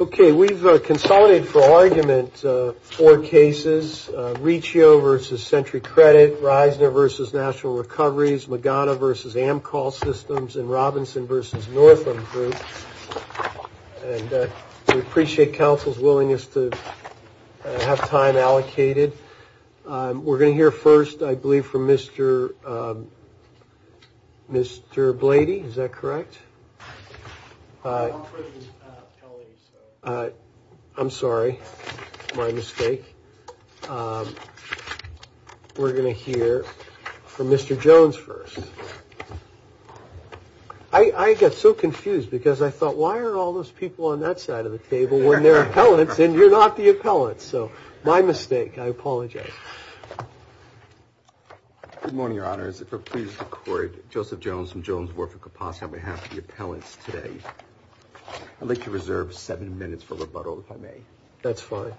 Okay, we've consolidated for argument four cases, Riccio v. Sentry Credit, Reisner v. National Recoveries, Magana v. Amcol Systems, and Robinson v. Northam Group. And we appreciate counsel's willingness to have time allocated. We're going to hear first, I believe, from Mr. Blady. Is that correct? I'm sorry, my mistake. We're going to hear from Mr. Jones first. I got so confused because I thought, why are all those people on that side of the table when they're appellants and you're not the appellant? So my mistake. I apologize. Good morning, Your Honor. If it pleases the court, Joseph Jones from Jones, Warford, Kaposta, on behalf of the appellants today, I'd like to reserve seven minutes for rebuttal, if I may. That's fine.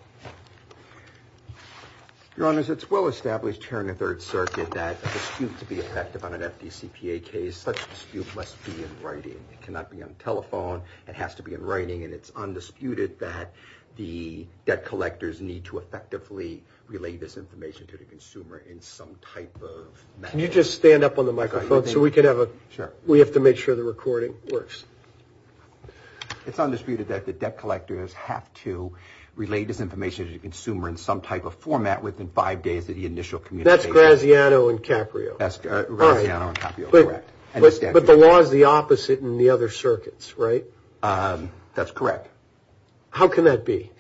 Your Honor, it's well established here in the Third Circuit that a dispute to be effective on an FDCPA case, such a dispute must be in writing. It cannot be on telephone. It has to be in writing. And it's undisputed that the debt collectors need to effectively relay this information to the consumer in some type of manner. Could you just stand up on the microphone so we have to make sure the recording works? It's undisputed that the debt collectors have to relay this information to the consumer in some type of format within five days of the initial communication. That's Graziano and Caprio. That's Graziano and Caprio, correct. But the law is the opposite in the other circuits, right? That's correct. How can that be?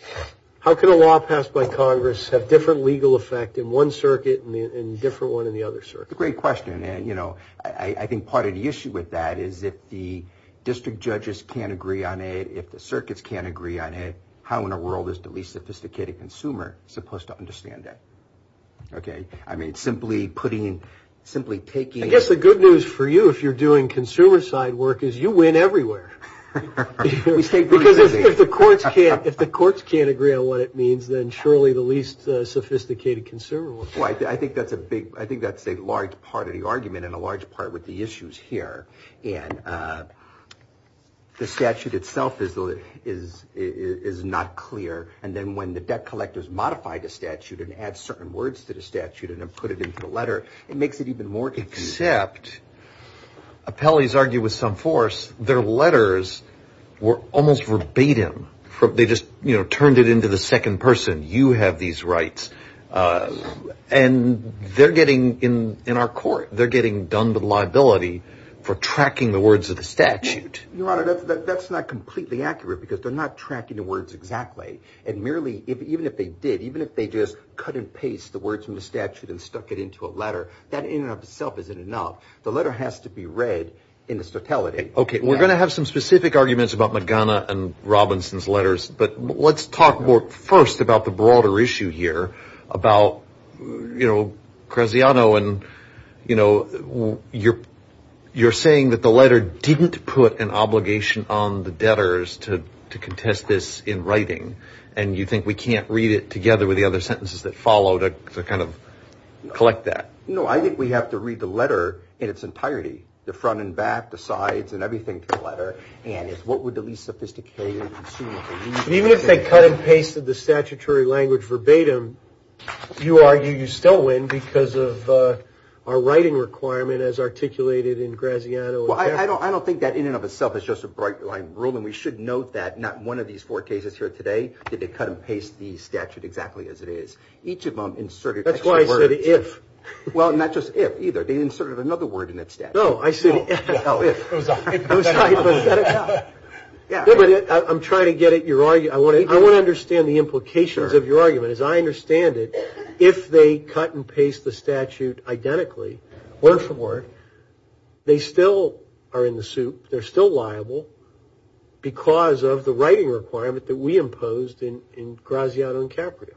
How can a law passed by Congress have different legal effect in one circuit and a different one in the other circuit? Great question. And, you know, I think part of the issue with that is if the district judges can't agree on it, if the circuits can't agree on it, how in the world is the least sophisticated consumer supposed to understand that? Okay? I mean, simply putting, simply taking. I guess the good news for you, if you're doing consumer side work, is you win everywhere. Because if the courts can't agree on what it means, then surely the least sophisticated consumer will. I think that's a big, I think that's a large part of the argument and a large part with the issues here. And the statute itself is not clear. And then when the debt collectors modify the statute and add certain words to the statute and then put it into the letter, it makes it even more confusing. Except, appellees argue with some force, their letters were almost verbatim. They just, you know, turned it into the second person. You have these rights. And they're getting, in our court, they're getting done with liability for tracking the words of the statute. Your Honor, that's not completely accurate because they're not tracking the words exactly. And merely, even if they did, even if they just cut and paste the words from the statute and stuck it into a letter, that in and of itself isn't enough. The letter has to be read in its totality. Okay. We're going to have some specific arguments about Magana and Robinson's letters. But let's talk first about the broader issue here about, you know, Cresciano. And, you know, you're saying that the letter didn't put an obligation on the debtors to contest this in writing. And you think we can't read it together with the other sentences that follow to kind of collect that. No, I think we have to read the letter in its entirety. The front and back, the sides, and everything to the letter. And it's what would be the least sophisticated. Even if they cut and pasted the statutory language verbatim, you argue you still win because of our writing requirement as articulated in Cresciano. Well, I don't think that in and of itself is just a bright line rule. And we should note that not one of these four cases here today did they cut and paste the statute exactly as it is. Each of them inserted extra words. That's why I said if. Well, not just if either. They inserted another word in that statute. No, I said if. It was hypothetical. Hypothetical. Yeah. I'm trying to get at your argument. I want to understand the implications of your argument. As I understand it, if they cut and paste the statute identically, word for word, they still are in the soup. They're still liable because of the writing requirement that we imposed in Cresciano and Caprio.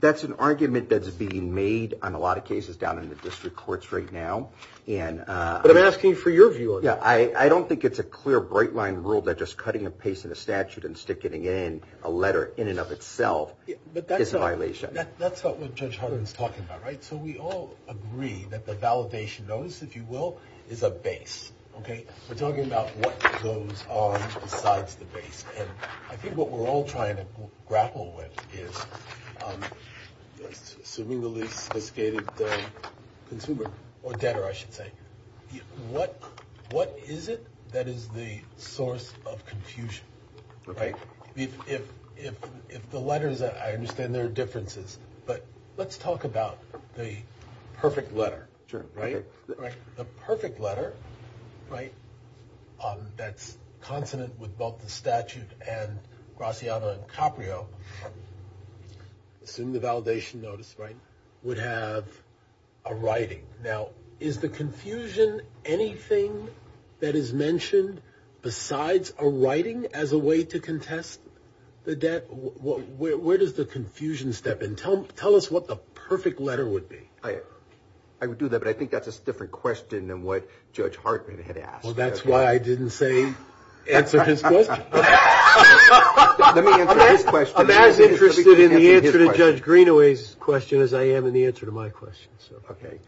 That's an argument that's being made on a lot of cases down in the district courts right now. But I'm asking for your view on that. Yeah. I don't think it's a clear, bright line rule that just cutting and pasting a statute and stick it in a letter in and of itself is a violation. That's not what Judge Harden is talking about, right? So we all agree that the validation notice, if you will, is a base. Okay. We're talking about what goes on besides the base. And I think what we're all trying to grapple with is, assuming the least sophisticated consumer or debtor, I should say, what is it that is the source of confusion? Right. If the letters, I understand there are differences, but let's talk about the perfect letter. Sure. Right? The perfect letter, right, that's consonant with both the statute and Cresciano and Caprio, assume the validation notice, right, would have a writing. Now, is the confusion anything that is mentioned besides a writing as a way to contest the debt? Where does the confusion step in? Tell us what the perfect letter would be. I would do that, but I think that's a different question than what Judge Harden had asked. Well, that's why I didn't say answer his question. Let me answer his question. I'm as interested in the answer to Judge Greenaway's question as I am in the answer to my question. Okay.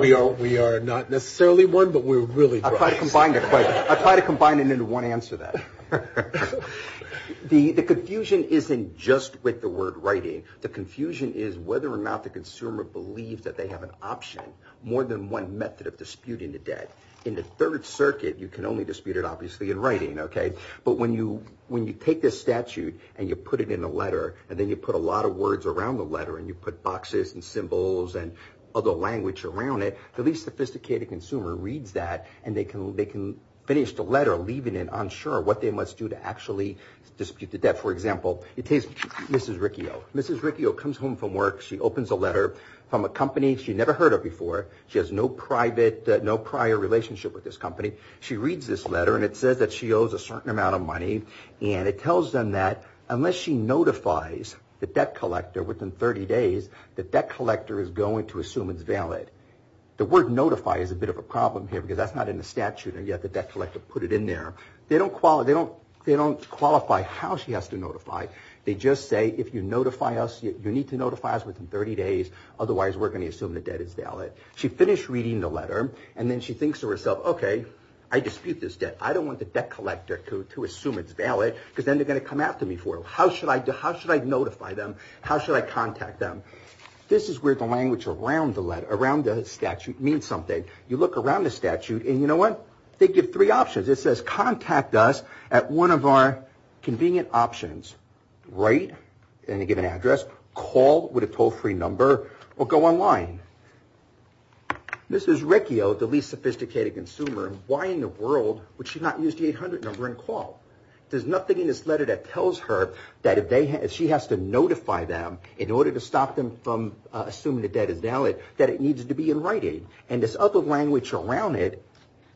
We are not necessarily one, but we're really close. I'll try to combine it into one answer then. The confusion isn't just with the word writing. The confusion is whether or not the consumer believes that they have an option, more than one method of disputing the debt. In the Third Circuit, you can only dispute it, obviously, in writing, okay? But when you take this statute and you put it in a letter and then you put a lot of words around the letter and you put boxes and symbols and other language around it, the least sophisticated consumer reads that and they can finish the letter leaving it unsure what they must do to actually dispute the debt. For example, it takes Mrs. Riccio. Mrs. Riccio comes home from work. She opens a letter from a company. She never heard of before. She has no prior relationship with this company. She reads this letter, and it says that she owes a certain amount of money, and it tells them that unless she notifies the debt collector within 30 days, the debt collector is going to assume it's valid. The word notify is a bit of a problem here because that's not in the statute, and yet the debt collector put it in there. They don't qualify how she has to notify. They just say if you notify us, you need to notify us within 30 days, otherwise we're going to assume the debt is valid. She finished reading the letter, and then she thinks to herself, okay, I dispute this debt. I don't want the debt collector to assume it's valid because then they're going to come after me for it. How should I notify them? How should I contact them? This is where the language around the statute means something. You look around the statute, and you know what? They give three options. It says contact us at one of our convenient options, write any given address, call with a toll-free number, or go online. This is Riccio, the least sophisticated consumer. Why in the world would she not use the 800 number and call? There's nothing in this letter that tells her that if she has to notify them in order to stop them from assuming the debt is valid, that it needs to be in writing. And this other language around it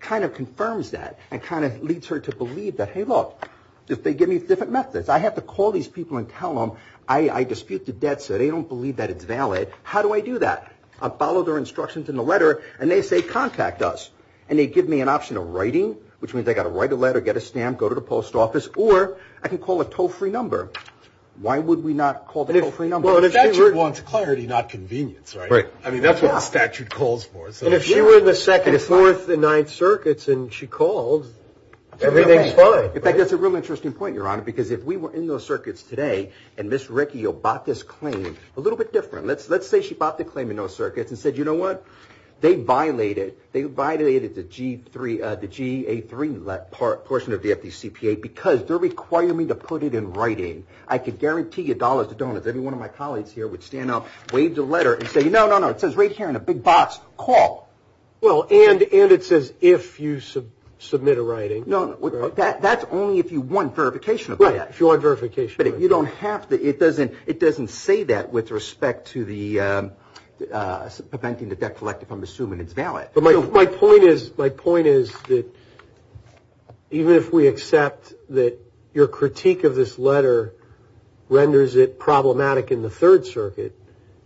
kind of confirms that and kind of leads her to believe that, hey, look, they give me different methods. I have to call these people and tell them I dispute the debt so they don't believe that it's valid. How do I do that? I follow their instructions in the letter, and they say contact us, and they give me an option of writing, which means I've got to write a letter, get a stamp, go to the post office, or I can call a toll-free number. Why would we not call the toll-free number? Statute wants clarity, not convenience, right? Right. I mean, that's what a statute calls for. And if she were in the second, fourth, and ninth circuits and she called, everything's fine. In fact, that's a real interesting point, Your Honor, because if we were in those circuits today and Ms. Riccio bought this claim a little bit different. Let's say she bought the claim in those circuits and said, you know what? They violated the GA3 portion of the FDCPA because they're requiring me to put it in writing. I could guarantee you dollars to donuts. Every one of my colleagues here would stand up, wave the letter, and say, no, no, no. It says right here in a big box, call. Well, and it says if you submit a writing. No, no. That's only if you want verification of that. Right, if you want verification. But you don't have to. It doesn't say that with respect to the preventing the debt collective, I'm assuming it's valid. My point is that even if we accept that your critique of this letter renders it problematic in the third circuit,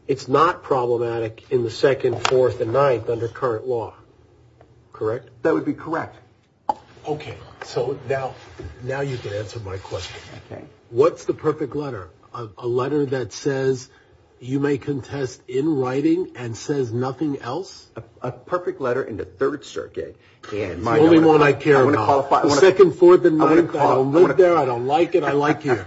it's not problematic in the second, fourth, and ninth under current law. Correct? That would be correct. Okay. So now you can answer my question. Okay. What's the perfect letter? A letter that says you may contest in writing and says nothing else? A perfect letter in the third circuit. The only one I care about. The second, fourth, and ninth. I don't live there. I don't like it. I like it.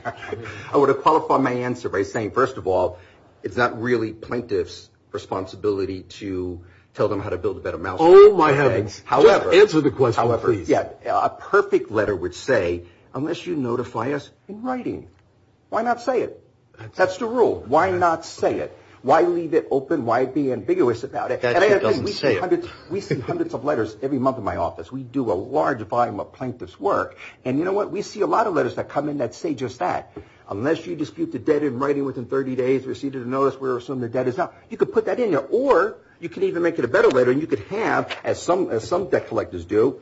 I want to qualify my answer by saying, first of all, it's not really plaintiff's responsibility to tell them how to build a better mousetrap. Oh, my heavens. Jeff, answer the question, please. A perfect letter would say, unless you notify us in writing. Why not say it? That's the rule. Why not say it? Why leave it open? Why be ambiguous about it? We see hundreds of letters every month in my office. We do a large volume of plaintiff's work. And you know what? We see a lot of letters that come in that say just that. Unless you dispute the debt in writing within 30 days, receive it in notice, we'll assume the debt is out. You could put that in there. Or you could even make it a better letter, and you could have, as some debt collectors do,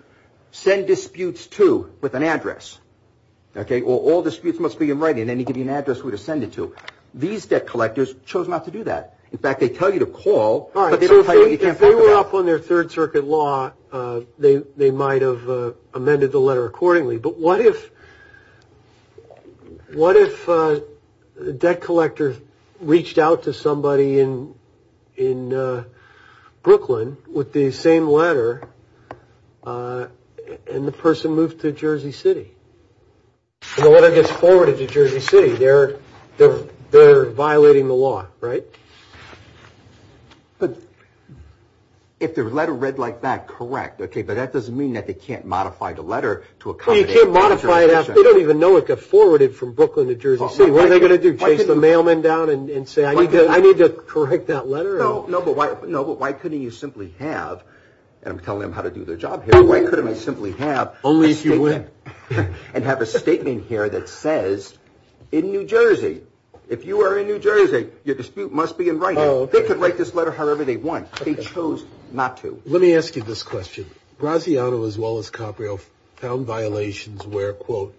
send disputes to with an address. Okay? Or all disputes must be in writing, and then you give me an address where to send it to. These debt collectors chose not to do that. In fact, they tell you to call. All right. So if they were up on their Third Circuit law, they might have amended the letter accordingly. But what if a debt collector reached out to somebody in Brooklyn with the same letter, and the person moved to Jersey City? When the letter gets forwarded to Jersey City, they're violating the law, right? But if the letter read like that, correct. Okay. But that doesn't mean that they can't modify the letter to accommodate. Well, you can't modify it. They don't even know it got forwarded from Brooklyn to Jersey City. What are they going to do, chase the mailman down and say, I need to correct that letter? No, but why couldn't you simply have, and I'm telling them how to do their job here. Only if you win. And have a statement here that says, in New Jersey, if you are in New Jersey, your dispute must be in writing. They could write this letter however they want. They chose not to. Let me ask you this question. Braziano as well as Caprio found violations where, quote,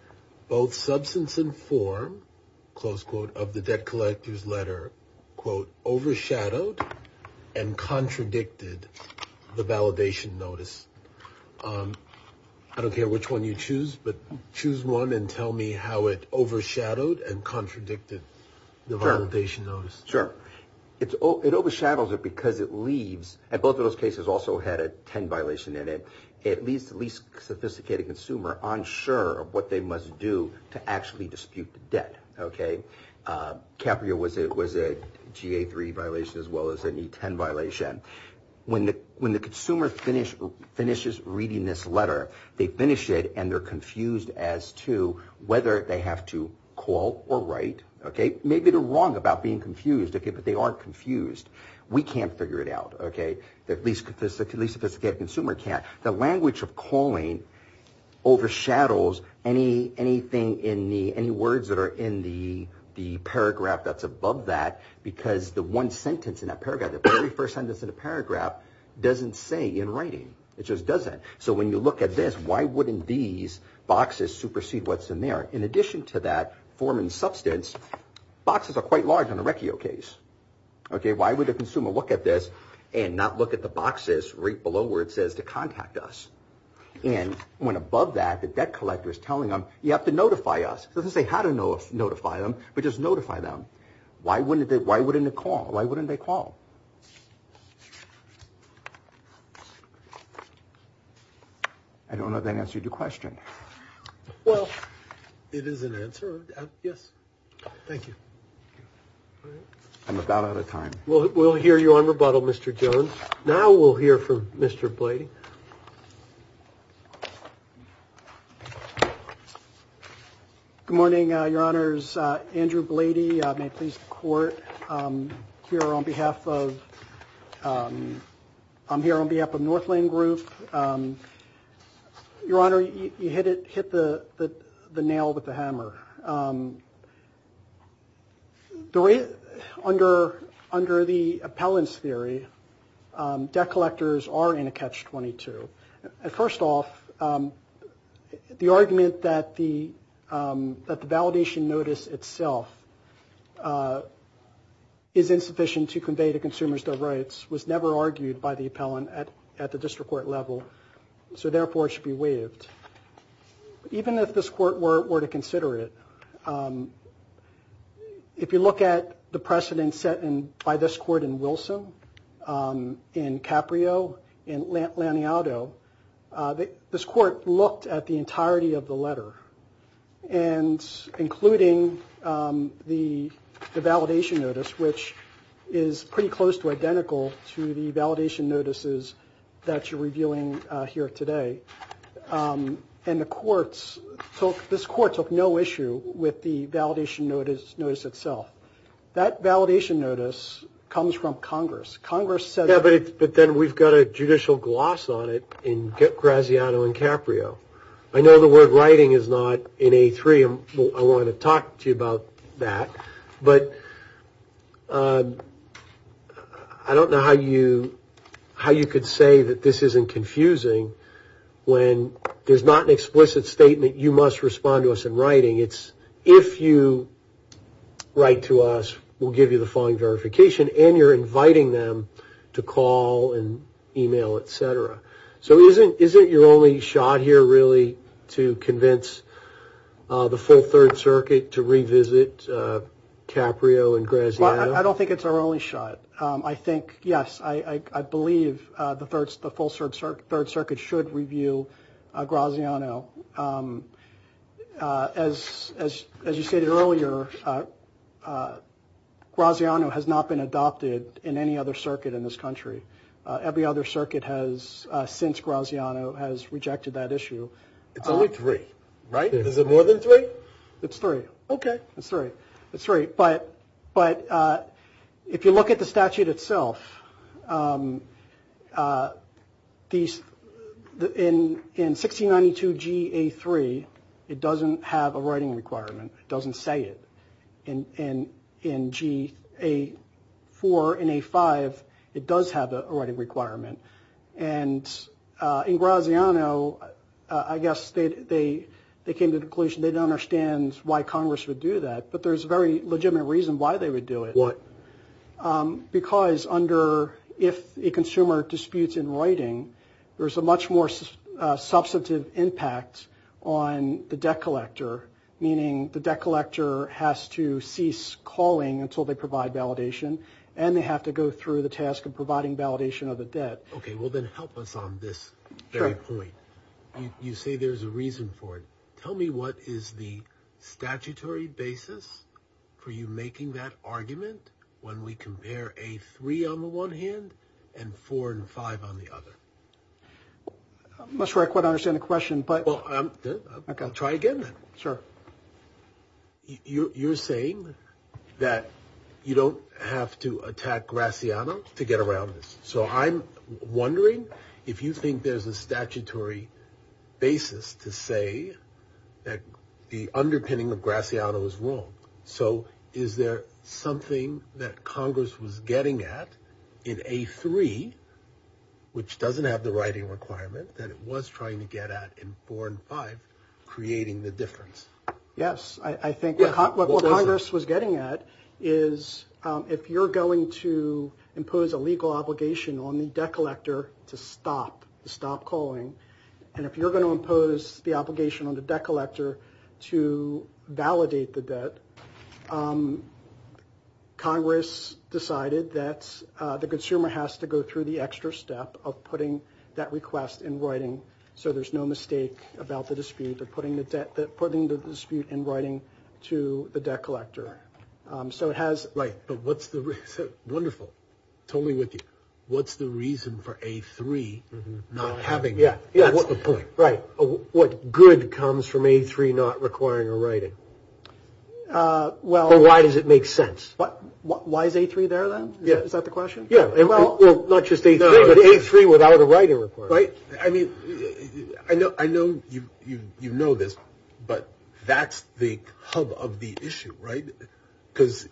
both substance and form, close quote, of the debt collector's letter, quote, overshadowed and contradicted the validation notice. I don't care which one you choose, but choose one and tell me how it overshadowed and contradicted the validation notice. Sure. It overshadows it because it leaves. And both of those cases also had a 10 violation in it. It leaves the least sophisticated consumer unsure of what they must do to actually dispute the debt. OK. Caprio was a GA3 violation as well as an E10 violation. When the consumer finishes reading this letter, they finish it and they're confused as to whether they have to call or write. OK. Maybe they're wrong about being confused, but they aren't confused. We can't figure it out. OK. The least sophisticated consumer can't. The language of calling overshadows any words that are in the paragraph that's above that because the one sentence in that paragraph, the very first sentence in the paragraph doesn't say in writing. It just doesn't. So when you look at this, why wouldn't these boxes supersede what's in there? In addition to that form and substance, boxes are quite large in the Recchio case. OK. Why would a consumer look at this and not look at the boxes right below where it says to contact us? And when above that, the debt collector is telling them, you have to notify us. It doesn't say how to notify them, but just notify them. Why wouldn't they call? Why wouldn't they call? I don't know if that answered your question. Well, it is an answer. Yes. Thank you. I'm about out of time. Well, we'll hear you on rebuttal, Mr. Jones. Now we'll hear from Mr. Blady. Good morning, Your Honors. Andrew Blady. May it please the Court. Here on behalf of I'm here on behalf of Northland Group. Your Honor, you hit the nail with the hammer. Under the appellant's theory, debt collectors are in a catch-22. First off, the argument that the validation notice itself is insufficient to convey to consumers their rights was never argued by the appellant at the district court level, so therefore it should be waived. Even if this Court were to consider it, if you look at the precedent set by this Court in Wilson, in Caprio, in Laniato, this Court looked at the entirety of the letter, including the validation notice, which is pretty close to identical to the validation notices that you're reviewing here today, and this Court took no issue with the validation notice itself. That validation notice comes from Congress. Yeah, but then we've got a judicial gloss on it in Graziano and Caprio. I know the word writing is not in A3, and I want to talk to you about that, but I don't know how you could say that this isn't confusing when there's not an explicit statement, you must respond to us in writing. It's if you write to us, we'll give you the following verification, and you're inviting them to call and email, et cetera. So isn't your only shot here really to convince the full Third Circuit to revisit Caprio and Graziano? I don't think it's our only shot. I think, yes, I believe the full Third Circuit should review Graziano. As you stated earlier, Graziano has not been adopted in any other circuit in this country. Every other circuit since Graziano has rejected that issue. It's only three, right? Is it more than three? It's three. Okay. It's three. But if you look at the statute itself, in 1692 G.A. 3, it doesn't have a writing requirement. It doesn't say it. In G.A. 4 and A. 5, it does have a writing requirement. And in Graziano, I guess they came to the conclusion they don't understand why Congress would do that, but there's a very legitimate reason why they would do it. Why? Because under if a consumer disputes in writing, there's a much more substantive impact on the debt collector, meaning the debt collector has to cease calling until they provide validation, and they have to go through the task of providing validation of the debt. Okay. Well, then help us on this very point. You say there's a reason for it. Tell me what is the statutory basis for you making that argument when we compare A. 3 on the one hand and 4 and 5 on the other. I'm not sure I quite understand the question, but – You're saying that you don't have to attack Graziano to get around this. So I'm wondering if you think there's a statutory basis to say that the underpinning of Graziano is wrong. So is there something that Congress was getting at in A. 3, which doesn't have the writing requirement, that it was trying to get at in 4 and 5, creating the difference? Yes. I think what Congress was getting at is if you're going to impose a legal obligation on the debt collector to stop, to stop calling, and if you're going to impose the obligation on the debt collector to validate the debt, Congress decided that the consumer has to go through the extra step of putting that request in writing so there's no mistake about the dispute or putting the dispute in writing to the debt collector. So it has – Right, but what's the – wonderful. Totally with you. What's the reason for A. 3 not having – Yeah, yeah. What good comes from A. 3 not requiring a writing? Or why does it make sense? Why is A. 3 there, then? Is that the question? Yeah, well, not just A. 3, but A. 3 without a writing requirement. Right. I mean, I know you know this, but that's the hub of the issue, right? Because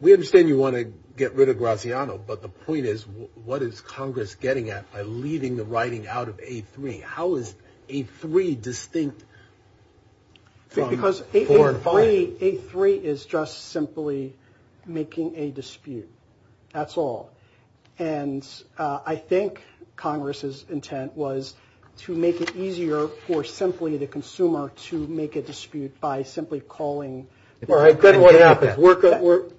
we understand you want to get rid of Graziano, but the point is what is Congress getting at by leaving the writing out of A. 3? How is A. 3 distinct from – Because A. 3 is just simply making a dispute. That's all. And I think Congress's intent was to make it easier for simply the consumer to make a dispute by simply calling – All right, then what happens?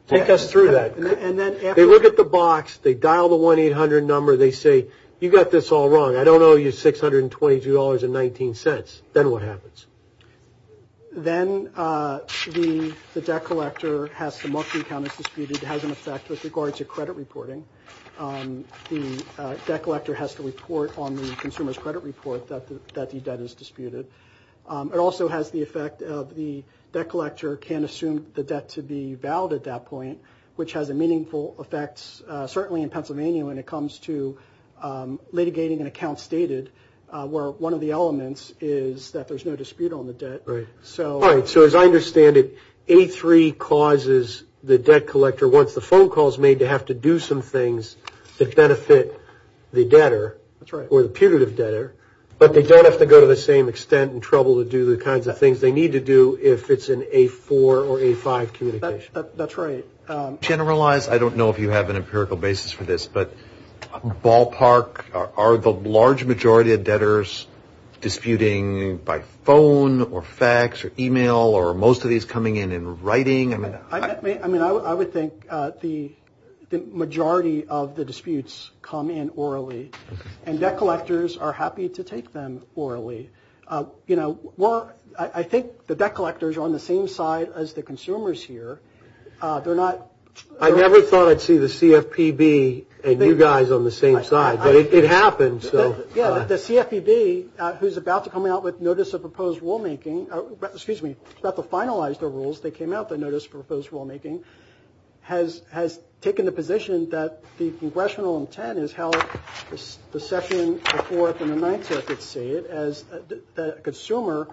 Take us through that. They look at the box. They dial the 1-800 number. They say, you got this all wrong. I don't owe you $622.19. Then what happens? Then the debt collector has to mark the account as disputed. It has an effect with regard to credit reporting. The debt collector has to report on the consumer's credit report that the debt is disputed. It also has the effect of the debt collector can assume the debt to be valid at that point, which has a meaningful effect certainly in Pennsylvania when it comes to litigating an account stated, where one of the elements is that there's no dispute on the debt. All right, so as I understand it, A. 3 causes the debt collector, once the phone call is made, to have to do some things that benefit the debtor or the putative debtor, but they don't have to go to the same extent and trouble to do the kinds of things they need to do if it's an A. 4 or A. 5 communication. That's right. Generalize – I don't know if you have an empirical basis for this, but ballpark are the large majority of debtors disputing by phone or fax or e-mail or are most of these coming in in writing? I mean, I would think the majority of the disputes come in orally, and debt collectors are happy to take them orally. I think the debt collectors are on the same side as the consumers here. I never thought I'd see the CFPB and you guys on the same side, but it happens. Yeah, but the CFPB, who's about to come out with notice of proposed rulemaking – excuse me, about to finalize their rules, they came out with a notice of proposed rulemaking, has taken the position that the congressional intent is held, the session, the Fourth and the Ninth Circuit say it, that a consumer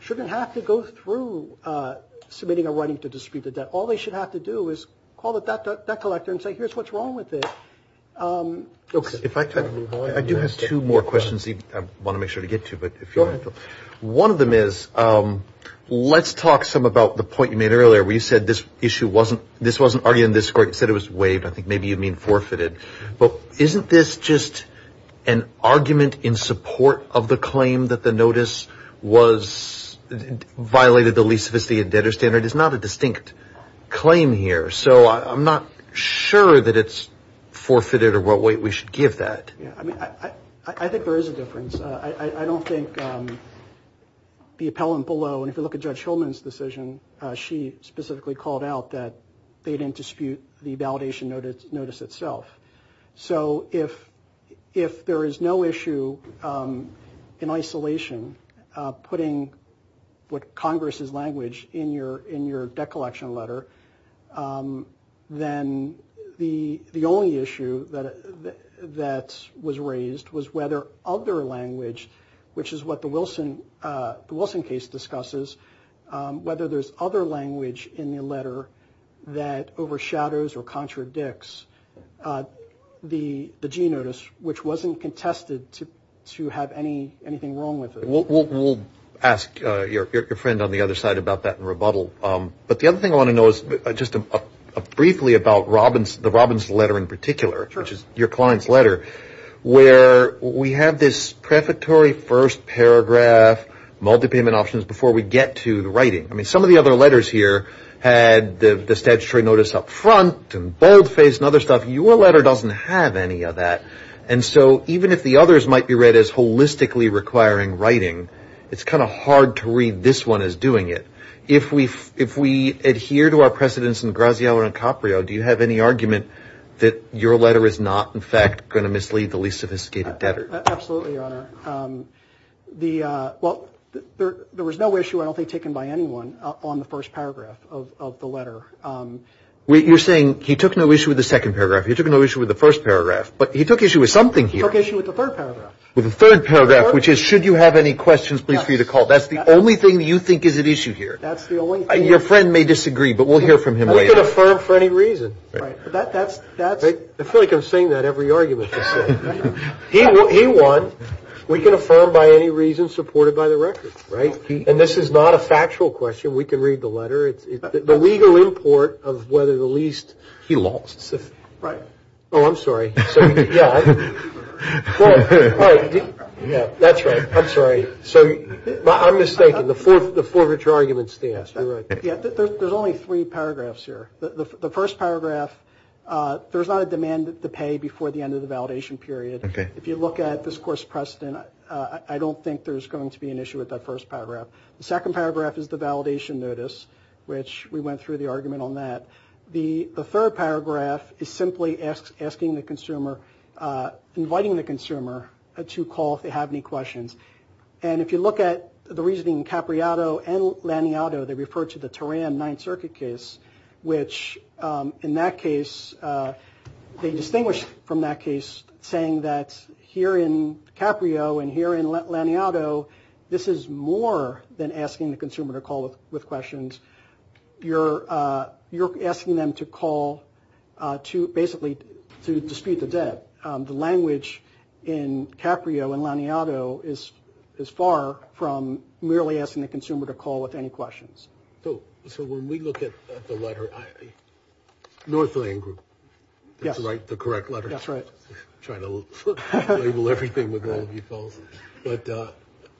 shouldn't have to go through submitting a writing to dispute the debt. All they should have to do is call the debt collector and say, here's what's wrong with it. I do have two more questions I want to make sure to get to. One of them is let's talk some about the point you made earlier where you said this issue wasn't – this wasn't argued in this court, you said it was waived. I think maybe you mean forfeited. But isn't this just an argument in support of the claim that the notice was – violated the least sophisticated debtor standard? It's not a distinct claim here. So I'm not sure that it's forfeited or what weight we should give that. Yeah, I mean, I think there is a difference. I don't think the appellant below, and if you look at Judge Hillman's decision, she specifically called out that they didn't dispute the validation notice itself. So if there is no issue in isolation putting what Congress's language in your debt collection letter, then the only issue that was raised was whether other language, which is what the Wilson case discusses, whether there's other language in the letter that overshadows or contradicts the G notice which wasn't contested to have anything wrong with it. We'll ask your friend on the other side about that in rebuttal. But the other thing I want to know is just briefly about the Robbins letter in particular, which is your client's letter, where we have this prefatory first paragraph, multi-payment options before we get to the writing. I mean, some of the other letters here had the statutory notice up front and boldface and other stuff. Your letter doesn't have any of that. And so even if the others might be read as holistically requiring writing, it's kind of hard to read this one as doing it. If we adhere to our precedents in Graziano and Caprio, do you have any argument that your letter is not, in fact, going to mislead the least sophisticated debtor? Absolutely, Your Honor. Well, there was no issue, I don't think, taken by anyone on the first paragraph of the letter. You're saying he took no issue with the second paragraph. He took no issue with the first paragraph. But he took issue with something here. He took issue with the third paragraph. With the third paragraph, which is should you have any questions, please feel free to call. That's the only thing you think is at issue here. That's the only thing. Your friend may disagree, but we'll hear from him later. We can affirm for any reason. I feel like I'm saying that every argument. He won. We can affirm by any reason supported by the record, right? And this is not a factual question. We can read the letter. It's the legal import of whether the least he lost. Right. Oh, I'm sorry. Yeah. All right. That's right. I'm sorry. I'm mistaken. The forfeiture argument stands. You're right. There's only three paragraphs here. The first paragraph, there's not a demand to pay before the end of the validation period. If you look at this course precedent, I don't think there's going to be an issue with that first paragraph. The second paragraph is the validation notice, which we went through the argument on that. The third paragraph is simply asking the consumer, inviting the consumer to call if they have any questions. And if you look at the reasoning in Caprio and Laniato, they refer to the Teran Ninth Circuit case, which in that case, they distinguish from that case, saying that here in Caprio and here in Laniato, this is more than asking the consumer to call with questions. You're asking them to call to basically to dispute the debt. The language in Caprio and Laniato is far from merely asking the consumer to call with any questions. So when we look at the letter, Northland Group. Yes. That's right, the correct letter. That's right. I'm trying to label everything with all of you fellows. But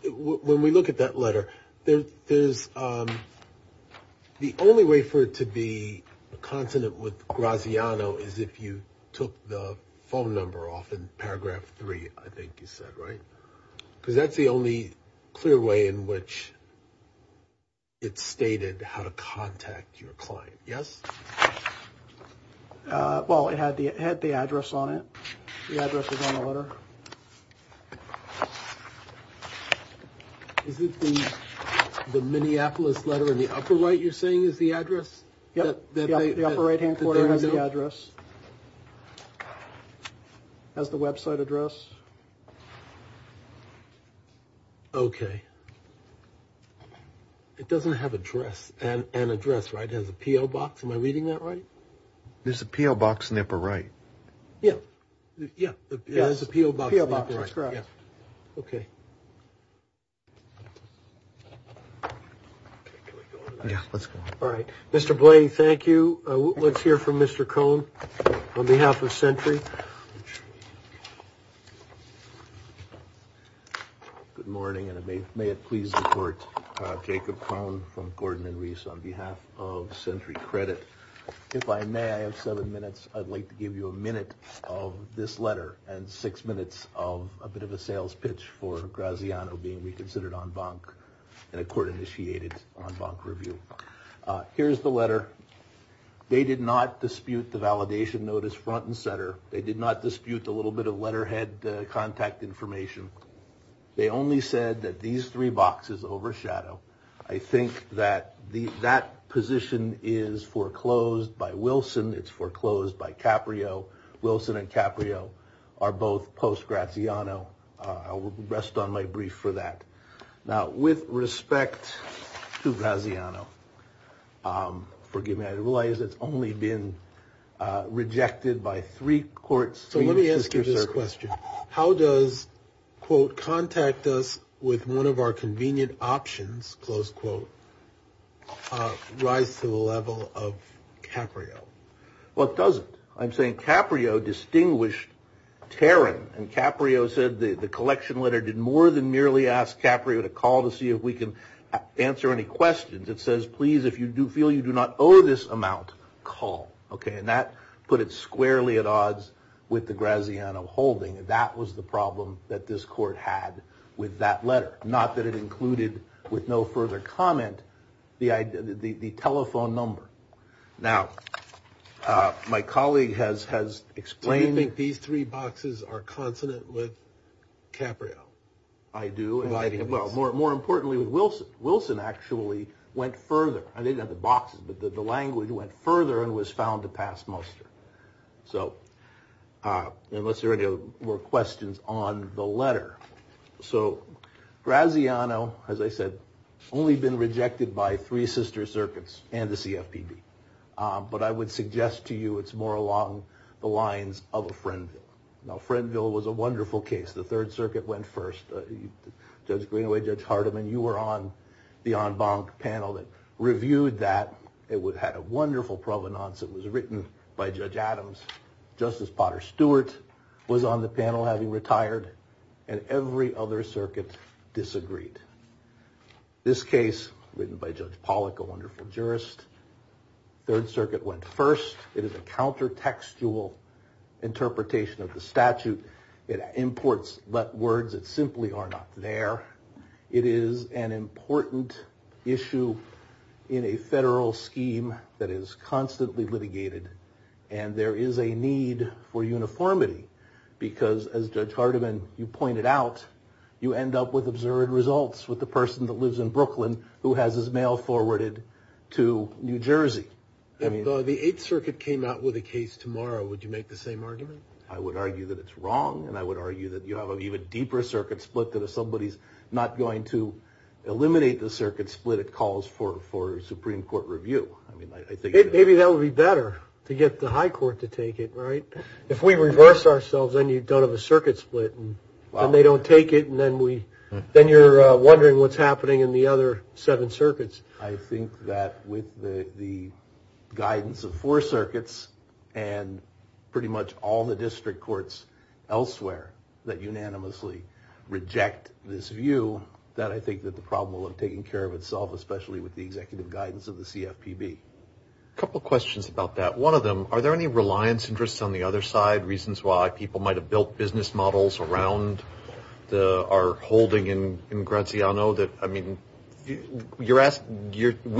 when we look at that letter, there's the only way for it to be a consonant with Graziano is if you took the phone number off in paragraph three. I think you said. Right. Because that's the only clear way in which. It's stated how to contact your client. Yes. Well, it had the address on it. The address is on the letter. Is it the Minneapolis letter in the upper right? You're saying is the address. Yes. The upper right hand corner has the address. As the Web site address. OK. It doesn't have a dress and an address. It has a P.O. box. Am I reading that right? There's a P.O. box in the upper right. Yeah. Yeah. There's a P.O. box. That's correct. OK. Let's go. All right. Mr. Blaine, thank you. Let's hear from Mr. Cone on behalf of Century. Good morning. May it please the court. Jacob Cone from Gordon and Reese on behalf of Century Credit. If I may, I have seven minutes. I'd like to give you a minute of this letter and six minutes of a bit of a sales pitch for Graziano being reconsidered on bonk and a court initiated on bonk review. Here's the letter. They did not dispute the validation notice front and center. They did not dispute a little bit of letterhead contact information. They only said that these three boxes overshadow. I think that that position is foreclosed by Wilson. It's foreclosed by Caprio. Wilson and Caprio are both post Graziano. I will rest on my brief for that. Now, with respect to Graziano, forgive me. I realize it's only been rejected by three courts. So let me ask you this question. How does, quote, contact us with one of our convenient options? Close quote. Rise to the level of Caprio. Well, it doesn't. I'm saying Caprio distinguished Terran. And Caprio said the collection letter did more than merely ask Caprio to call to see if we can answer any questions. It says, please, if you do feel you do not owe this amount, call. Okay. And that put it squarely at odds with the Graziano holding. That was the problem that this court had with that letter. Not that it included with no further comment the telephone number. Now, my colleague has explained it. These three boxes are consonant with Caprio. I do. Well, more importantly, with Wilson. Wilson actually went further. I didn't have the boxes, but the language went further and was found to pass muster. So unless there are any more questions on the letter. So Graziano, as I said, only been rejected by three sister circuits and the CFPB. But I would suggest to you it's more along the lines of a Friendville. Now, Friendville was a wonderful case. The Third Circuit went first. Judge Greenaway, Judge Hardiman, you were on the en banc panel that reviewed that. It had a wonderful provenance. It was written by Judge Adams. Justice Potter Stewart was on the panel, having retired. And every other circuit disagreed. This case, written by Judge Pollack, a wonderful jurist. Third Circuit went first. It is a counter-textual interpretation of the statute. It imports but words that simply are not there. It is an important issue in a federal scheme that is constantly litigated. And there is a need for uniformity. Because, as Judge Hardiman, you pointed out, you end up with absurd results with the person that lives in Brooklyn who has his mail forwarded to New Jersey. The Eighth Circuit came out with a case tomorrow. Would you make the same argument? I would argue that it's wrong. And I would argue that you have an even deeper circuit split that if somebody is not going to eliminate the circuit split, it calls for Supreme Court review. Maybe that would be better, to get the high court to take it, right? If we reverse ourselves, then you don't have a circuit split. And they don't take it, and then you're wondering what's happening in the other seven circuits. I think that with the guidance of four circuits and pretty much all the district courts elsewhere that unanimously reject this view, that I think that the problem will have taken care of itself, especially with the executive guidance of the CFPB. A couple of questions about that. One of them, are there any reliance interests on the other side, reasons why people might have built business models around our holding in Graziano? I mean, we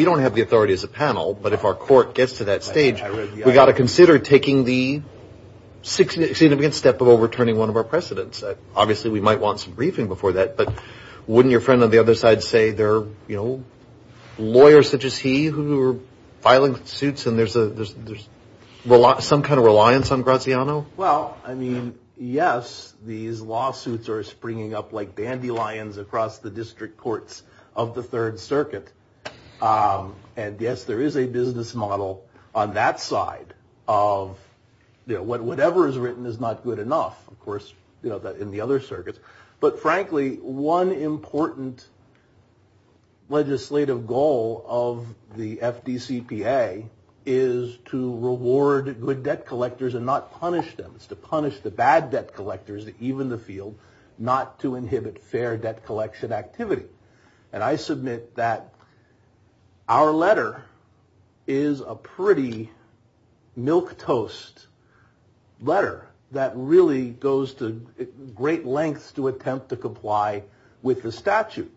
don't have the authority as a panel, but if our court gets to that stage, we've got to consider taking the significant step of overturning one of our precedents. Obviously, we might want some briefing before that, but wouldn't your friend on the other side say there are lawyers such as he who are filing suits and there's some kind of reliance on Graziano? Well, I mean, yes, these lawsuits are springing up like dandelions across the district courts of the Third Circuit. And yes, there is a business model on that side of whatever is written is not good enough, of course, in the other circuits. But frankly, one important legislative goal of the FDCPA is to reward good debt collectors and not punish them. It's to punish the bad debt collectors, even the field, not to inhibit fair debt collection activity. And I submit that our letter is a pretty milquetoast letter that really goes to great lengths to attempt to comply with the statute.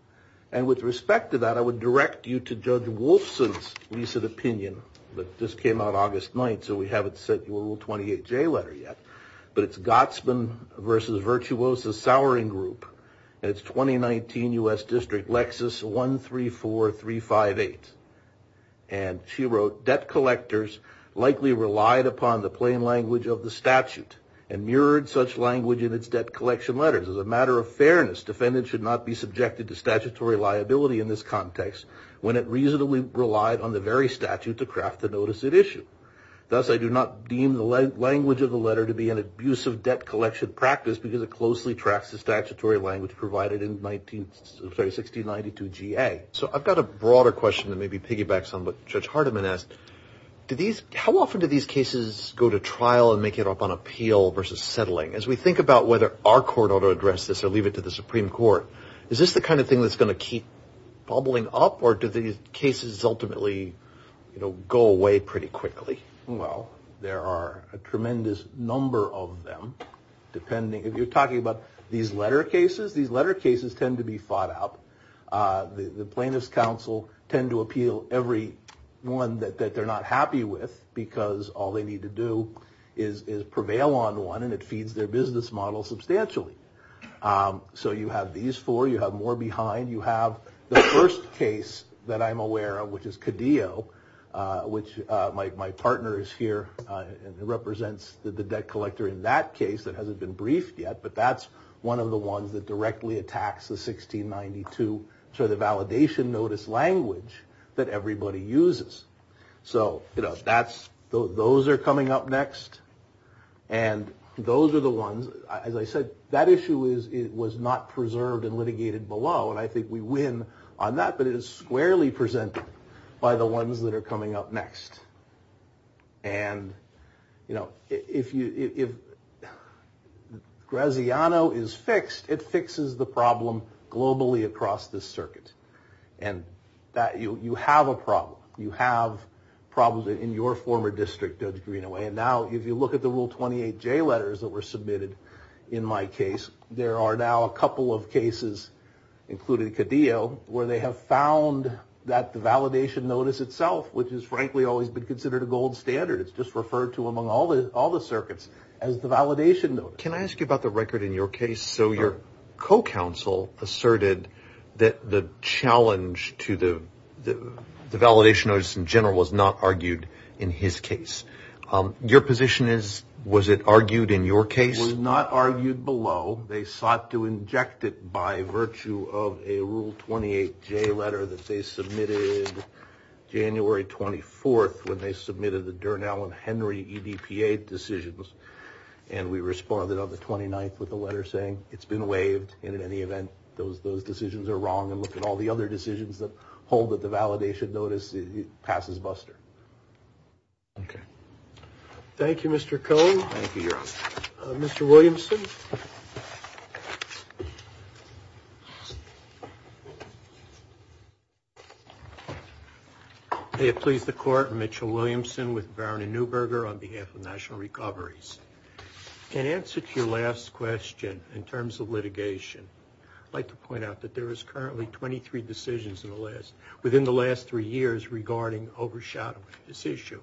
And with respect to that, I would direct you to Judge Wolfson's recent opinion that just came out August 9th, so we haven't sent you a little 28-J letter yet. But it's Gotsman v. Virtuoso's Souring Group, and it's 2019 U.S. District Lexus 134358. And she wrote, debt collectors likely relied upon the plain language of the statute and mirrored such language in its debt collection letters. As a matter of fairness, defendants should not be subjected to statutory liability in this context when it reasonably relied on the very statute to craft the notice it issued. Thus, I do not deem the language of the letter to be an abusive debt collection practice because it closely tracks the statutory language provided in 1692 G.A. So I've got a broader question that maybe piggybacks on what Judge Hardiman asked. How often do these cases go to trial and make it up on appeal versus settling? As we think about whether our court ought to address this or leave it to the Supreme Court, is this the kind of thing that's going to keep bubbling up, or do these cases ultimately go away pretty quickly? Well, there are a tremendous number of them. If you're talking about these letter cases, these letter cases tend to be fought out. The plaintiffs' counsel tend to appeal every one that they're not happy with because all they need to do is prevail on one, and it feeds their business model substantially. So you have these four. You have more behind. You have the first case that I'm aware of, which is Cadillo, which my partner is here. It represents the debt collector in that case that hasn't been briefed yet, but that's one of the ones that directly attacks the 1692 validation notice language that everybody uses. So those are coming up next. And those are the ones, as I said, that issue was not preserved and litigated below, and I think we win on that, but it is squarely presented by the ones that are coming up next. And, you know, if Graziano is fixed, it fixes the problem globally across this circuit. And you have a problem. You have problems in your former district, Judge Greenaway. And now if you look at the Rule 28J letters that were submitted in my case, there are now a couple of cases, including Cadillo, where they have found that the validation notice itself, which has frankly always been considered a gold standard, it's just referred to among all the circuits as the validation notice. Can I ask you about the record in your case? So your co-counsel asserted that the challenge to the validation notice in general was not argued in his case. Your position is, was it argued in your case? It was not argued below. They sought to inject it by virtue of a Rule 28J letter that they submitted January 24th when they submitted the Dernal and Henry EDPA decisions. And we responded on the 29th with a letter saying it's been waived, and in any event, those decisions are wrong. And look at all the other decisions that hold that the validation notice passes buster. Okay. Thank you, Mr. Cohen. Thank you, Your Honor. Mr. Williamson. May it please the Court, Mitchell Williamson with Varon and Neuberger on behalf of National Recoveries. In answer to your last question in terms of litigation, I'd like to point out that there is currently 23 decisions within the last three years regarding overshadowing this issue.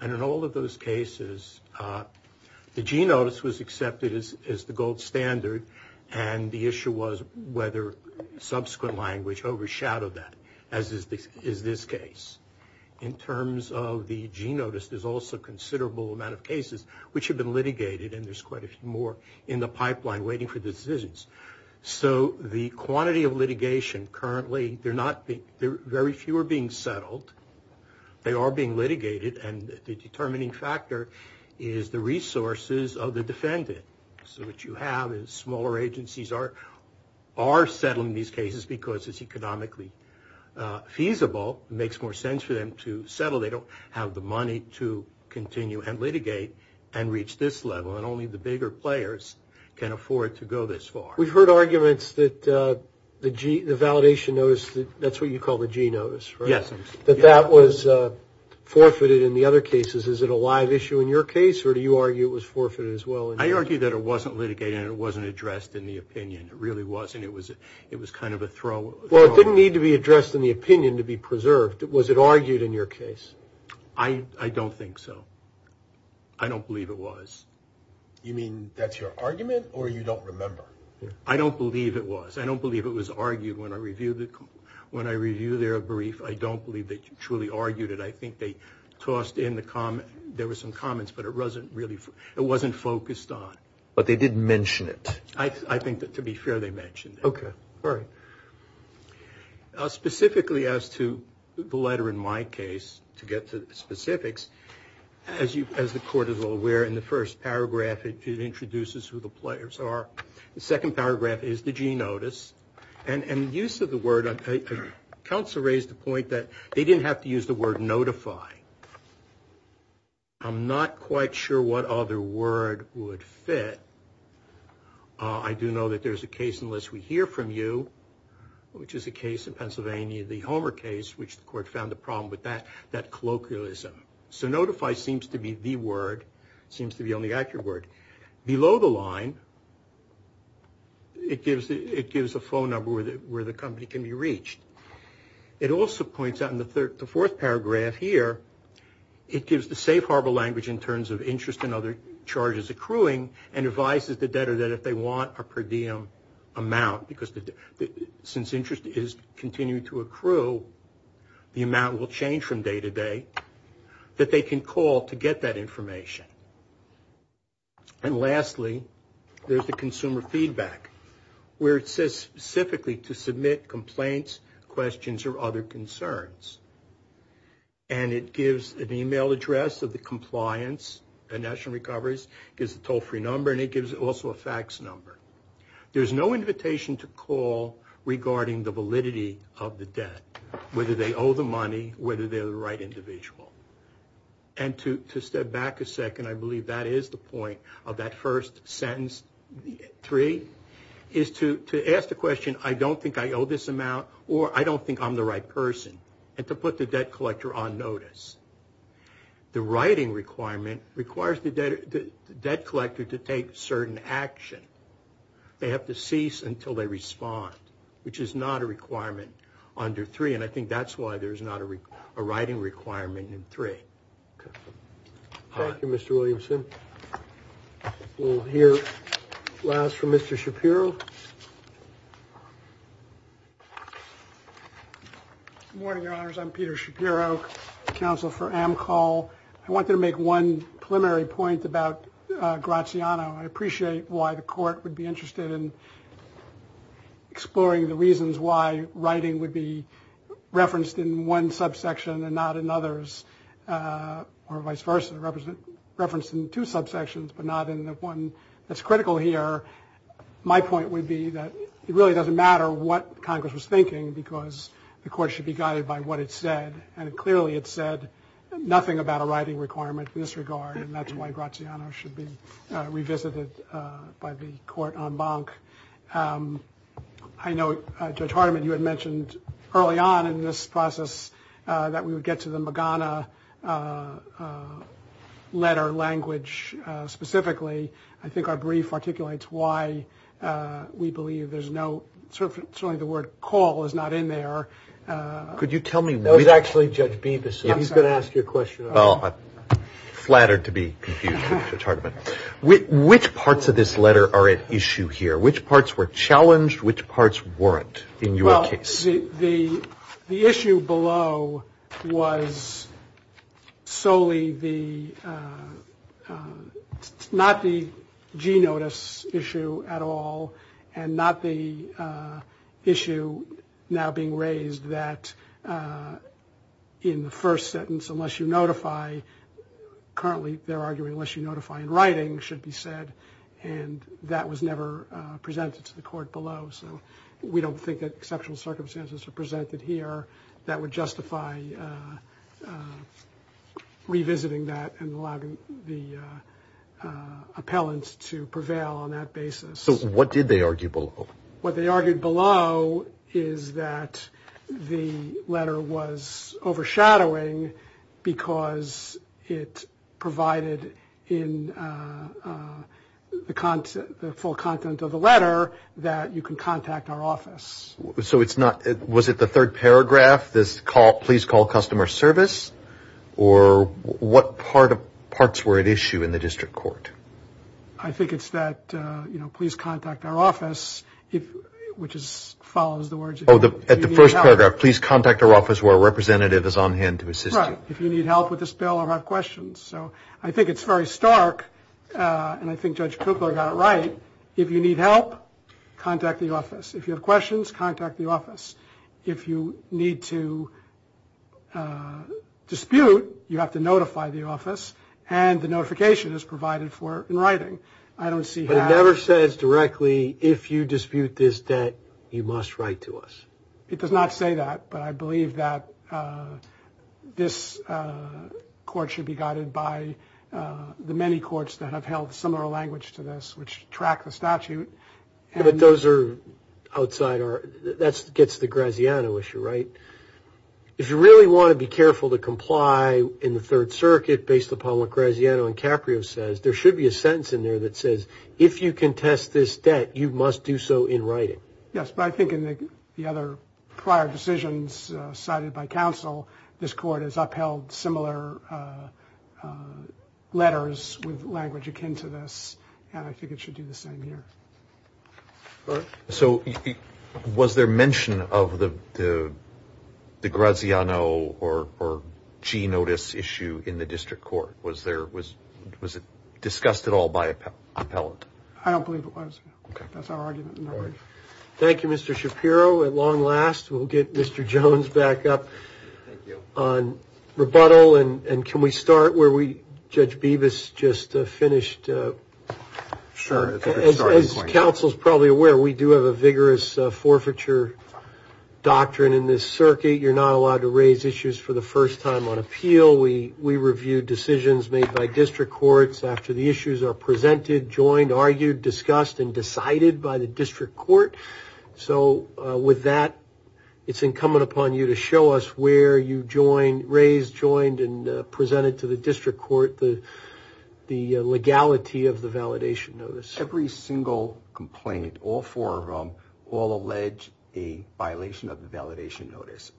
And in all of those cases, the g-notice was accepted as the gold standard, and the issue was whether subsequent language overshadowed that, as is this case. In terms of the g-notice, there's also a considerable amount of cases which have been litigated, and there's quite a few more in the pipeline waiting for decisions. So the quantity of litigation currently, they're not, very few are being settled. They are being litigated, and the determining factor is the resources of the defendant. So what you have is smaller agencies are settling these cases because it's economically feasible. It makes more sense for them to settle. They don't have the money to continue and litigate and reach this level, and only the bigger players can afford to go this far. We've heard arguments that the validation notice, that's what you call the g-notice, right? Yes. That that was forfeited in the other cases. Is it a live issue in your case, or do you argue it was forfeited as well? I argue that it wasn't litigated and it wasn't addressed in the opinion. It really wasn't. It was kind of a throwaway. Well, it didn't need to be addressed in the opinion to be preserved. Was it argued in your case? I don't think so. I don't believe it was. You mean that's your argument, or you don't remember? I don't believe it was. I don't believe it was argued when I reviewed their brief. I don't believe they truly argued it. I think they tossed in the comment. There were some comments, but it wasn't focused on. But they didn't mention it. I think that, to be fair, they mentioned it. Okay. All right. Specifically as to the letter in my case, to get to the specifics, as the Court is all aware, in the first paragraph, it introduces who the players are. The second paragraph is the g-notice. And the use of the word, counsel raised the point that they didn't have to use the word notify. I'm not quite sure what other word would fit. I do know that there's a case, unless we hear from you, which is a case in Pennsylvania, the Homer case, which the Court found a problem with that colloquialism. So notify seems to be the word, seems to be the only accurate word. Below the line, it gives a phone number where the company can be reached. It also points out in the fourth paragraph here, it gives the safe harbor language in terms of interest and other charges accruing, and advises the debtor that if they want a per diem amount, because since interest is continuing to accrue, the amount will change from day to day, that they can call to get that information. And lastly, there's the consumer feedback, where it says specifically to submit complaints, questions, or other concerns. And it gives an email address of the compliance at National Recovery, gives a toll-free number, and it gives also a fax number. There's no invitation to call regarding the validity of the debt, whether they owe the money, whether they're the right individual. And to step back a second, I believe that is the point of that first sentence, three, is to ask the question, I don't think I owe this amount, or I don't think I'm the right person, and to put the debt collector on notice. The writing requirement requires the debt collector to take certain action. They have to cease until they respond, which is not a requirement under three, and I think that's why there's not a writing requirement in three. Thank you, Mr. Williamson. We'll hear last from Mr. Shapiro. Thank you. Good morning, Your Honors. I'm Peter Shapiro, Counsel for AMCAL. I wanted to make one preliminary point about Graziano. I appreciate why the Court would be interested in exploring the reasons why writing would be referenced in one subsection and not in others, or vice versa, referenced in two subsections, but not in the one that's critical here. My point would be that it really doesn't matter what Congress was thinking because the Court should be guided by what it said, and clearly it said nothing about a writing requirement in this regard, and that's why Graziano should be revisited by the Court en banc. I know, Judge Hardiman, you had mentioned early on in this process that we would get to the Magana letter language specifically. I think our brief articulates why we believe there's no certainly the word call is not in there. Could you tell me? No, it's actually Judge Bevis. He's going to ask you a question. Oh, I'm flattered to be confused with Judge Hardiman. Which parts of this letter are at issue here? Which parts were challenged? Which parts weren't in your case? The issue below was solely not the G notice issue at all and not the issue now being raised that in the first sentence unless you notify, currently they're arguing unless you notify in writing, should be said, and that was never presented to the Court below. So we don't think that exceptional circumstances are presented here that would justify revisiting that and allowing the appellant to prevail on that basis. So what did they argue below? What they argued below is that the letter was overshadowing because it provided in the full content of the letter that you can contact our office. So it's not, was it the third paragraph, this please call customer service, or what parts were at issue in the district court? I think it's that please contact our office, which follows the words if you need help. Oh, at the first paragraph, please contact our office where a representative is on hand to assist you. Right, if you need help with this bill or have questions. So I think it's very stark, and I think Judge Kupler got it right. If you need help, contact the office. If you have questions, contact the office. If you need to dispute, you have to notify the office, and the notification is provided for in writing. But it never says directly if you dispute this debt, you must write to us. It does not say that, but I believe that this court should be guided by the many courts that have held similar language to this, which track the statute. But those are outside our, that gets the Graziano issue, right? If you really want to be careful to comply in the Third Circuit, based upon what Graziano and Caprio says, there should be a sentence in there that says, if you contest this debt, you must do so in writing. Yes, but I think in the other prior decisions cited by counsel, this court has upheld similar letters with language akin to this, and I think it should do the same here. All right. So was there mention of the Graziano or G notice issue in the district court? Was there, was it discussed at all by appellate? I don't believe it was. Okay. That's our argument in that regard. All right. Thank you, Mr. Shapiro. At long last, we'll get Mr. Jones back up on rebuttal, and can we start where Judge Bevis just finished? Sure. As counsel is probably aware, we do have a vigorous forfeiture doctrine in this circuit. You're not allowed to raise issues for the first time on appeal. We review decisions made by district courts after the issues are presented, joined, argued, discussed, and decided by the district court. So with that, it's incumbent upon you to show us where you raise, joined, and presented to the district court the legality of the validation notice. Every single complaint, all four of them, all allege a violation of the validation notice.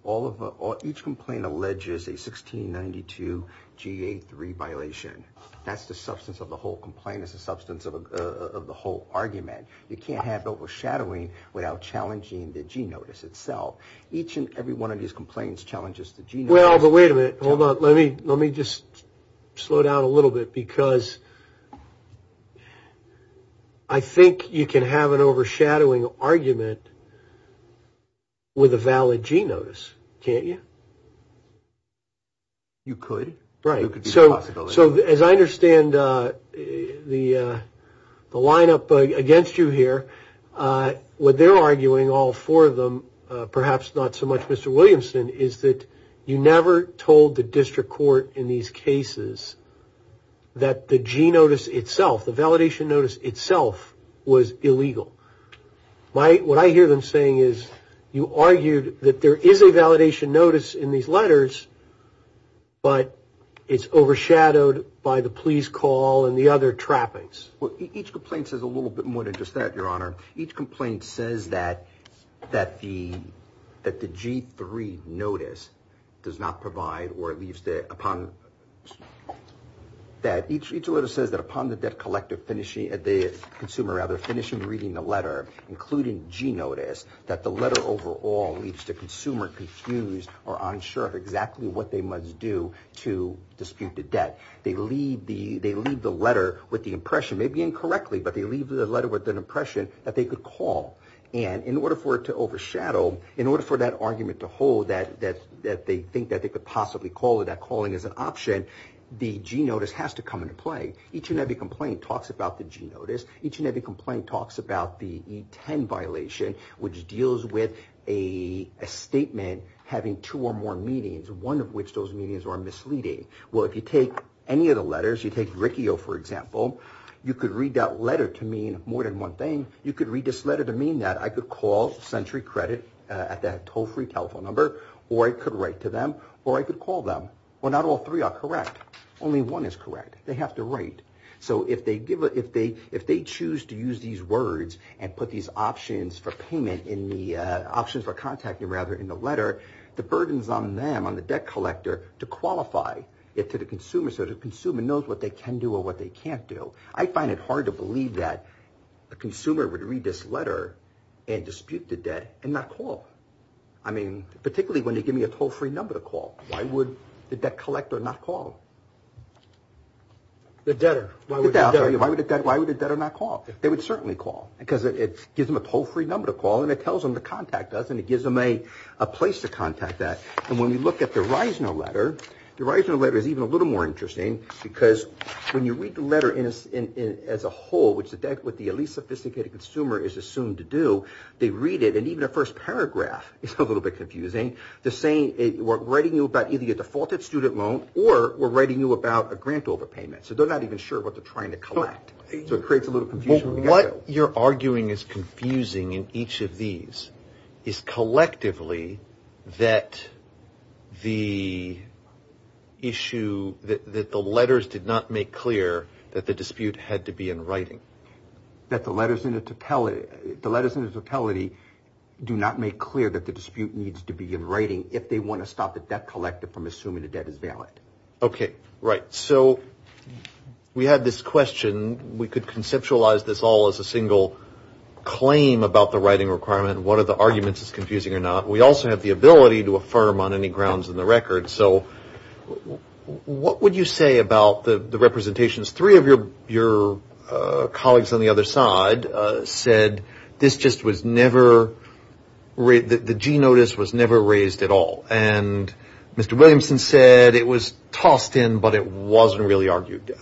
Each complaint alleges a 1692 GA3 violation. That's the substance of the whole complaint. It's the substance of the whole argument. You can't have overshadowing without challenging the g-notice itself. Each and every one of these complaints challenges the g-notice. Well, but wait a minute. Hold on. Let me just slow down a little bit, because I think you can have an overshadowing argument with a valid g-notice, can't you? You could. Right. So as I understand the line up against you here, what they're arguing, all four of them, perhaps not so much Mr. Williamson, is that you never told the district court in these cases that the g-notice itself, the validation notice itself, was illegal. What I hear them saying is you argued that there is a validation notice in these letters, but it's overshadowed by the please call and the other trappings. Well, each complaint says a little bit more than just that, Your Honor. Each complaint says that the G3 notice does not provide or leaves the upon that each letter says that upon the debt collector finishing, the consumer rather, finishing reading the letter, including g-notice, that the letter overall leaves the consumer confused or unsure of exactly what they must do to dispute the debt. They leave the letter with the impression, maybe incorrectly, but they leave the letter with an impression that they could call. And in order for it to overshadow, in order for that argument to hold that they think that they could possibly call it, that calling is an option, the g-notice has to come into play. Each and every complaint talks about the g-notice. Each and every complaint talks about the E10 violation, which deals with a statement having two or more meanings, one of which those meanings are misleading. Well, if you take any of the letters, you take Riccio, for example, you could read that letter to mean more than one thing. You could read this letter to mean that I could call Century Credit at that toll-free telephone number, or I could write to them, or I could call them. Well, not all three are correct. Only one is correct. They have to write. So if they choose to use these words and put these options for payment, options for contacting, rather, in the letter, the burden is on them, on the debt collector, to qualify it to the consumer so the consumer knows what they can do or what they can't do. I find it hard to believe that a consumer would read this letter and dispute the debt and not call. I mean, particularly when they give me a toll-free number to call. Why would the debt collector not call? The debtor. Why would the debtor not call? They would certainly call because it gives them a toll-free number to call, and it tells them to contact us, and it gives them a place to contact that. And when we look at the Reisner letter, the Reisner letter is even a little more interesting because when you read the letter as a whole, which is what the least sophisticated consumer is assumed to do, they read it, and even the first paragraph is a little bit confusing. They're saying we're writing you about either your defaulted student loan or we're writing you about a grant overpayment. So they're not even sure what they're trying to collect. So it creates a little confusion. What you're arguing is confusing in each of these is collectively that the issue, that the letters did not make clear that the dispute had to be in writing. That the letters in the totality do not make clear that the dispute needs to be in writing if they want to stop the debt collective from assuming the debt is valid. Okay, right. So we had this question. We could conceptualize this all as a single claim about the writing requirement. One of the arguments is confusing or not. We also have the ability to affirm on any grounds in the record. So what would you say about the representations? Three of your colleagues on the other side said this just was never – the G notice was never raised at all. And Mr. Williamson said it was tossed in, but it wasn't really argued.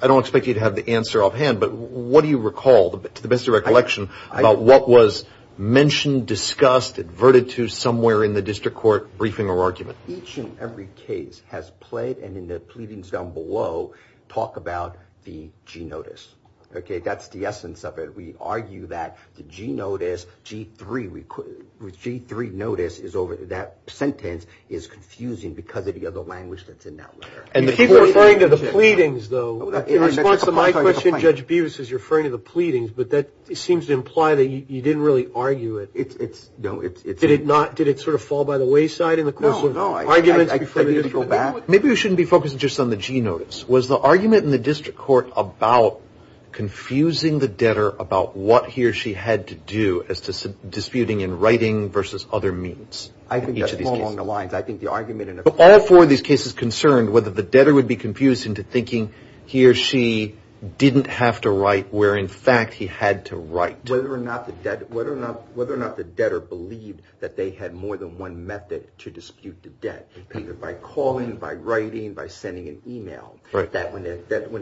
I don't expect you to have the answer offhand, but what do you recall to the best of recollection about what was mentioned, discussed, adverted to somewhere in the district court briefing or argument? Each and every case has played, and in the pleadings down below, talk about the G notice. Okay, that's the essence of it. We argue that the G notice, G3 notice, that sentence is confusing because of the other language that's in that letter. You keep referring to the pleadings, though. In response to my question, Judge Bevis is referring to the pleadings, but that seems to imply that you didn't really argue it. No, it's – Did it not – did it sort of fall by the wayside in the course of arguments? No, no, I didn't go back. Maybe we shouldn't be focusing just on the G notice. Was the argument in the district court about confusing the debtor about what he or she had to do as to disputing in writing versus other means? I think that's along the lines. I think the argument in – But all four of these cases concerned whether the debtor would be confused into thinking he or she didn't have to write where, in fact, he had to write. Whether or not the debtor believed that they had more than one method to dispute the debt, either by calling, by writing, by sending an email, that when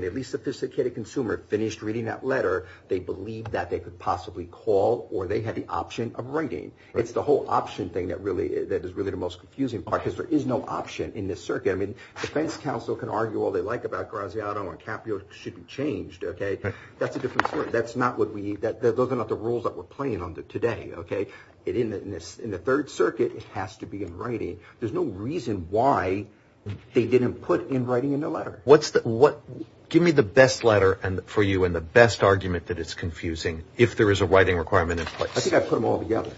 the least sophisticated consumer finished reading that letter, they believed that they could possibly call or they had the option of writing. It's the whole option thing that is really the most confusing part because there is no option in this circuit. I mean, defense counsel can argue all they like about Graziano and Caprio. It should be changed, okay? That's a different story. That's not what we – those are not the rules that we're playing under today, okay? In the Third Circuit, it has to be in writing. There's no reason why they didn't put in writing in the letter. What's the – give me the best letter for you and the best argument that is confusing if there is a writing requirement in place. I think I put them all together.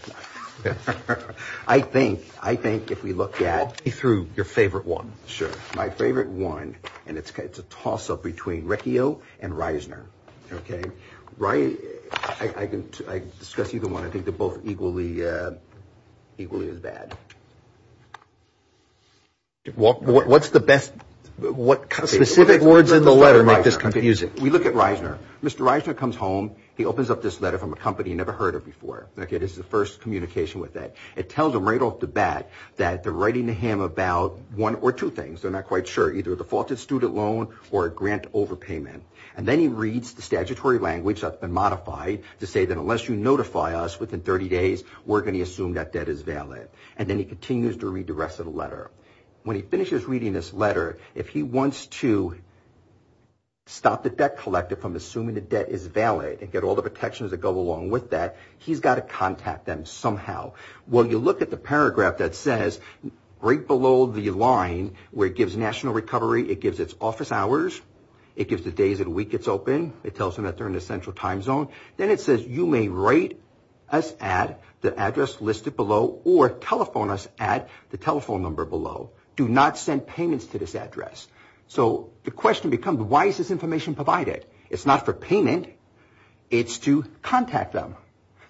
I think if we look at – Walk me through your favorite one. Sure. My favorite one, and it's a toss-up between Recchio and Reisner, okay? I can discuss either one. I think they're both equally as bad. What's the best – what specific words in the letter make this confusing? We look at Reisner. Mr. Reisner comes home. He opens up this letter from a company he never heard of before. This is the first communication with it. It tells him right off the bat that they're writing to him about one or two things. They're not quite sure, either a defaulted student loan or a grant overpayment. And then he reads the statutory language that's been modified to say that unless you notify us within 30 days, we're going to assume that debt is valid. And then he continues to read the rest of the letter. When he finishes reading this letter, if he wants to stop the debt collector from assuming the debt is valid and get all the protections that go along with that, he's got to contact them somehow. Well, you look at the paragraph that says, right below the line where it gives national recovery, it gives its office hours, it gives the days of the week it's open. It tells him that they're in the central time zone. Then it says, you may write us at the address listed below or telephone us at the telephone number below. Do not send payments to this address. So the question becomes, why is this information provided? It's not for payment. It's to contact them.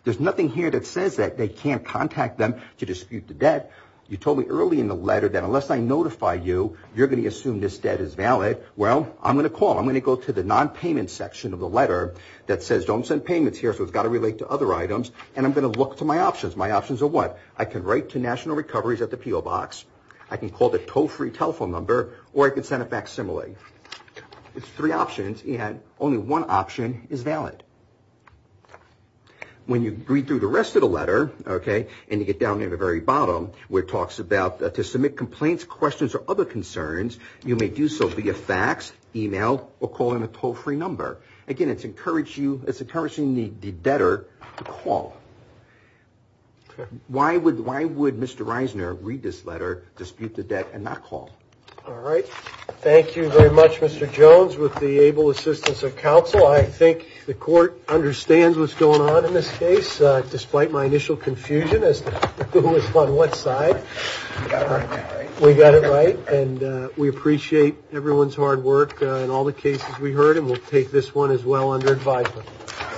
There's nothing here that says that they can't contact them to dispute the debt. You told me early in the letter that unless I notify you, you're going to assume this debt is valid. Well, I'm going to call. I'm going to go to the nonpayment section of the letter that says, don't send payments here, so it's got to relate to other items, and I'm going to look to my options. My options are what? I can write to National Recoveries at the P.O. Box. I can call the Toe Free telephone number, or I can send it back similarly. There's three options, and only one option is valid. When you read through the rest of the letter, and you get down to the very bottom, where it talks about to submit complaints, questions, or other concerns, you may do so via fax, e-mail, or call in a Toe Free number. Again, it's encouraging the debtor to call. Why would Mr. Reisner read this letter, dispute the debt, and not call? All right. Thank you very much, Mr. Jones. With the able assistance of counsel, I think the court understands what's going on in this case, despite my initial confusion as to who was on what side. We got it right, and we appreciate everyone's hard work on all the cases we heard, and we'll take this one as well under advisement.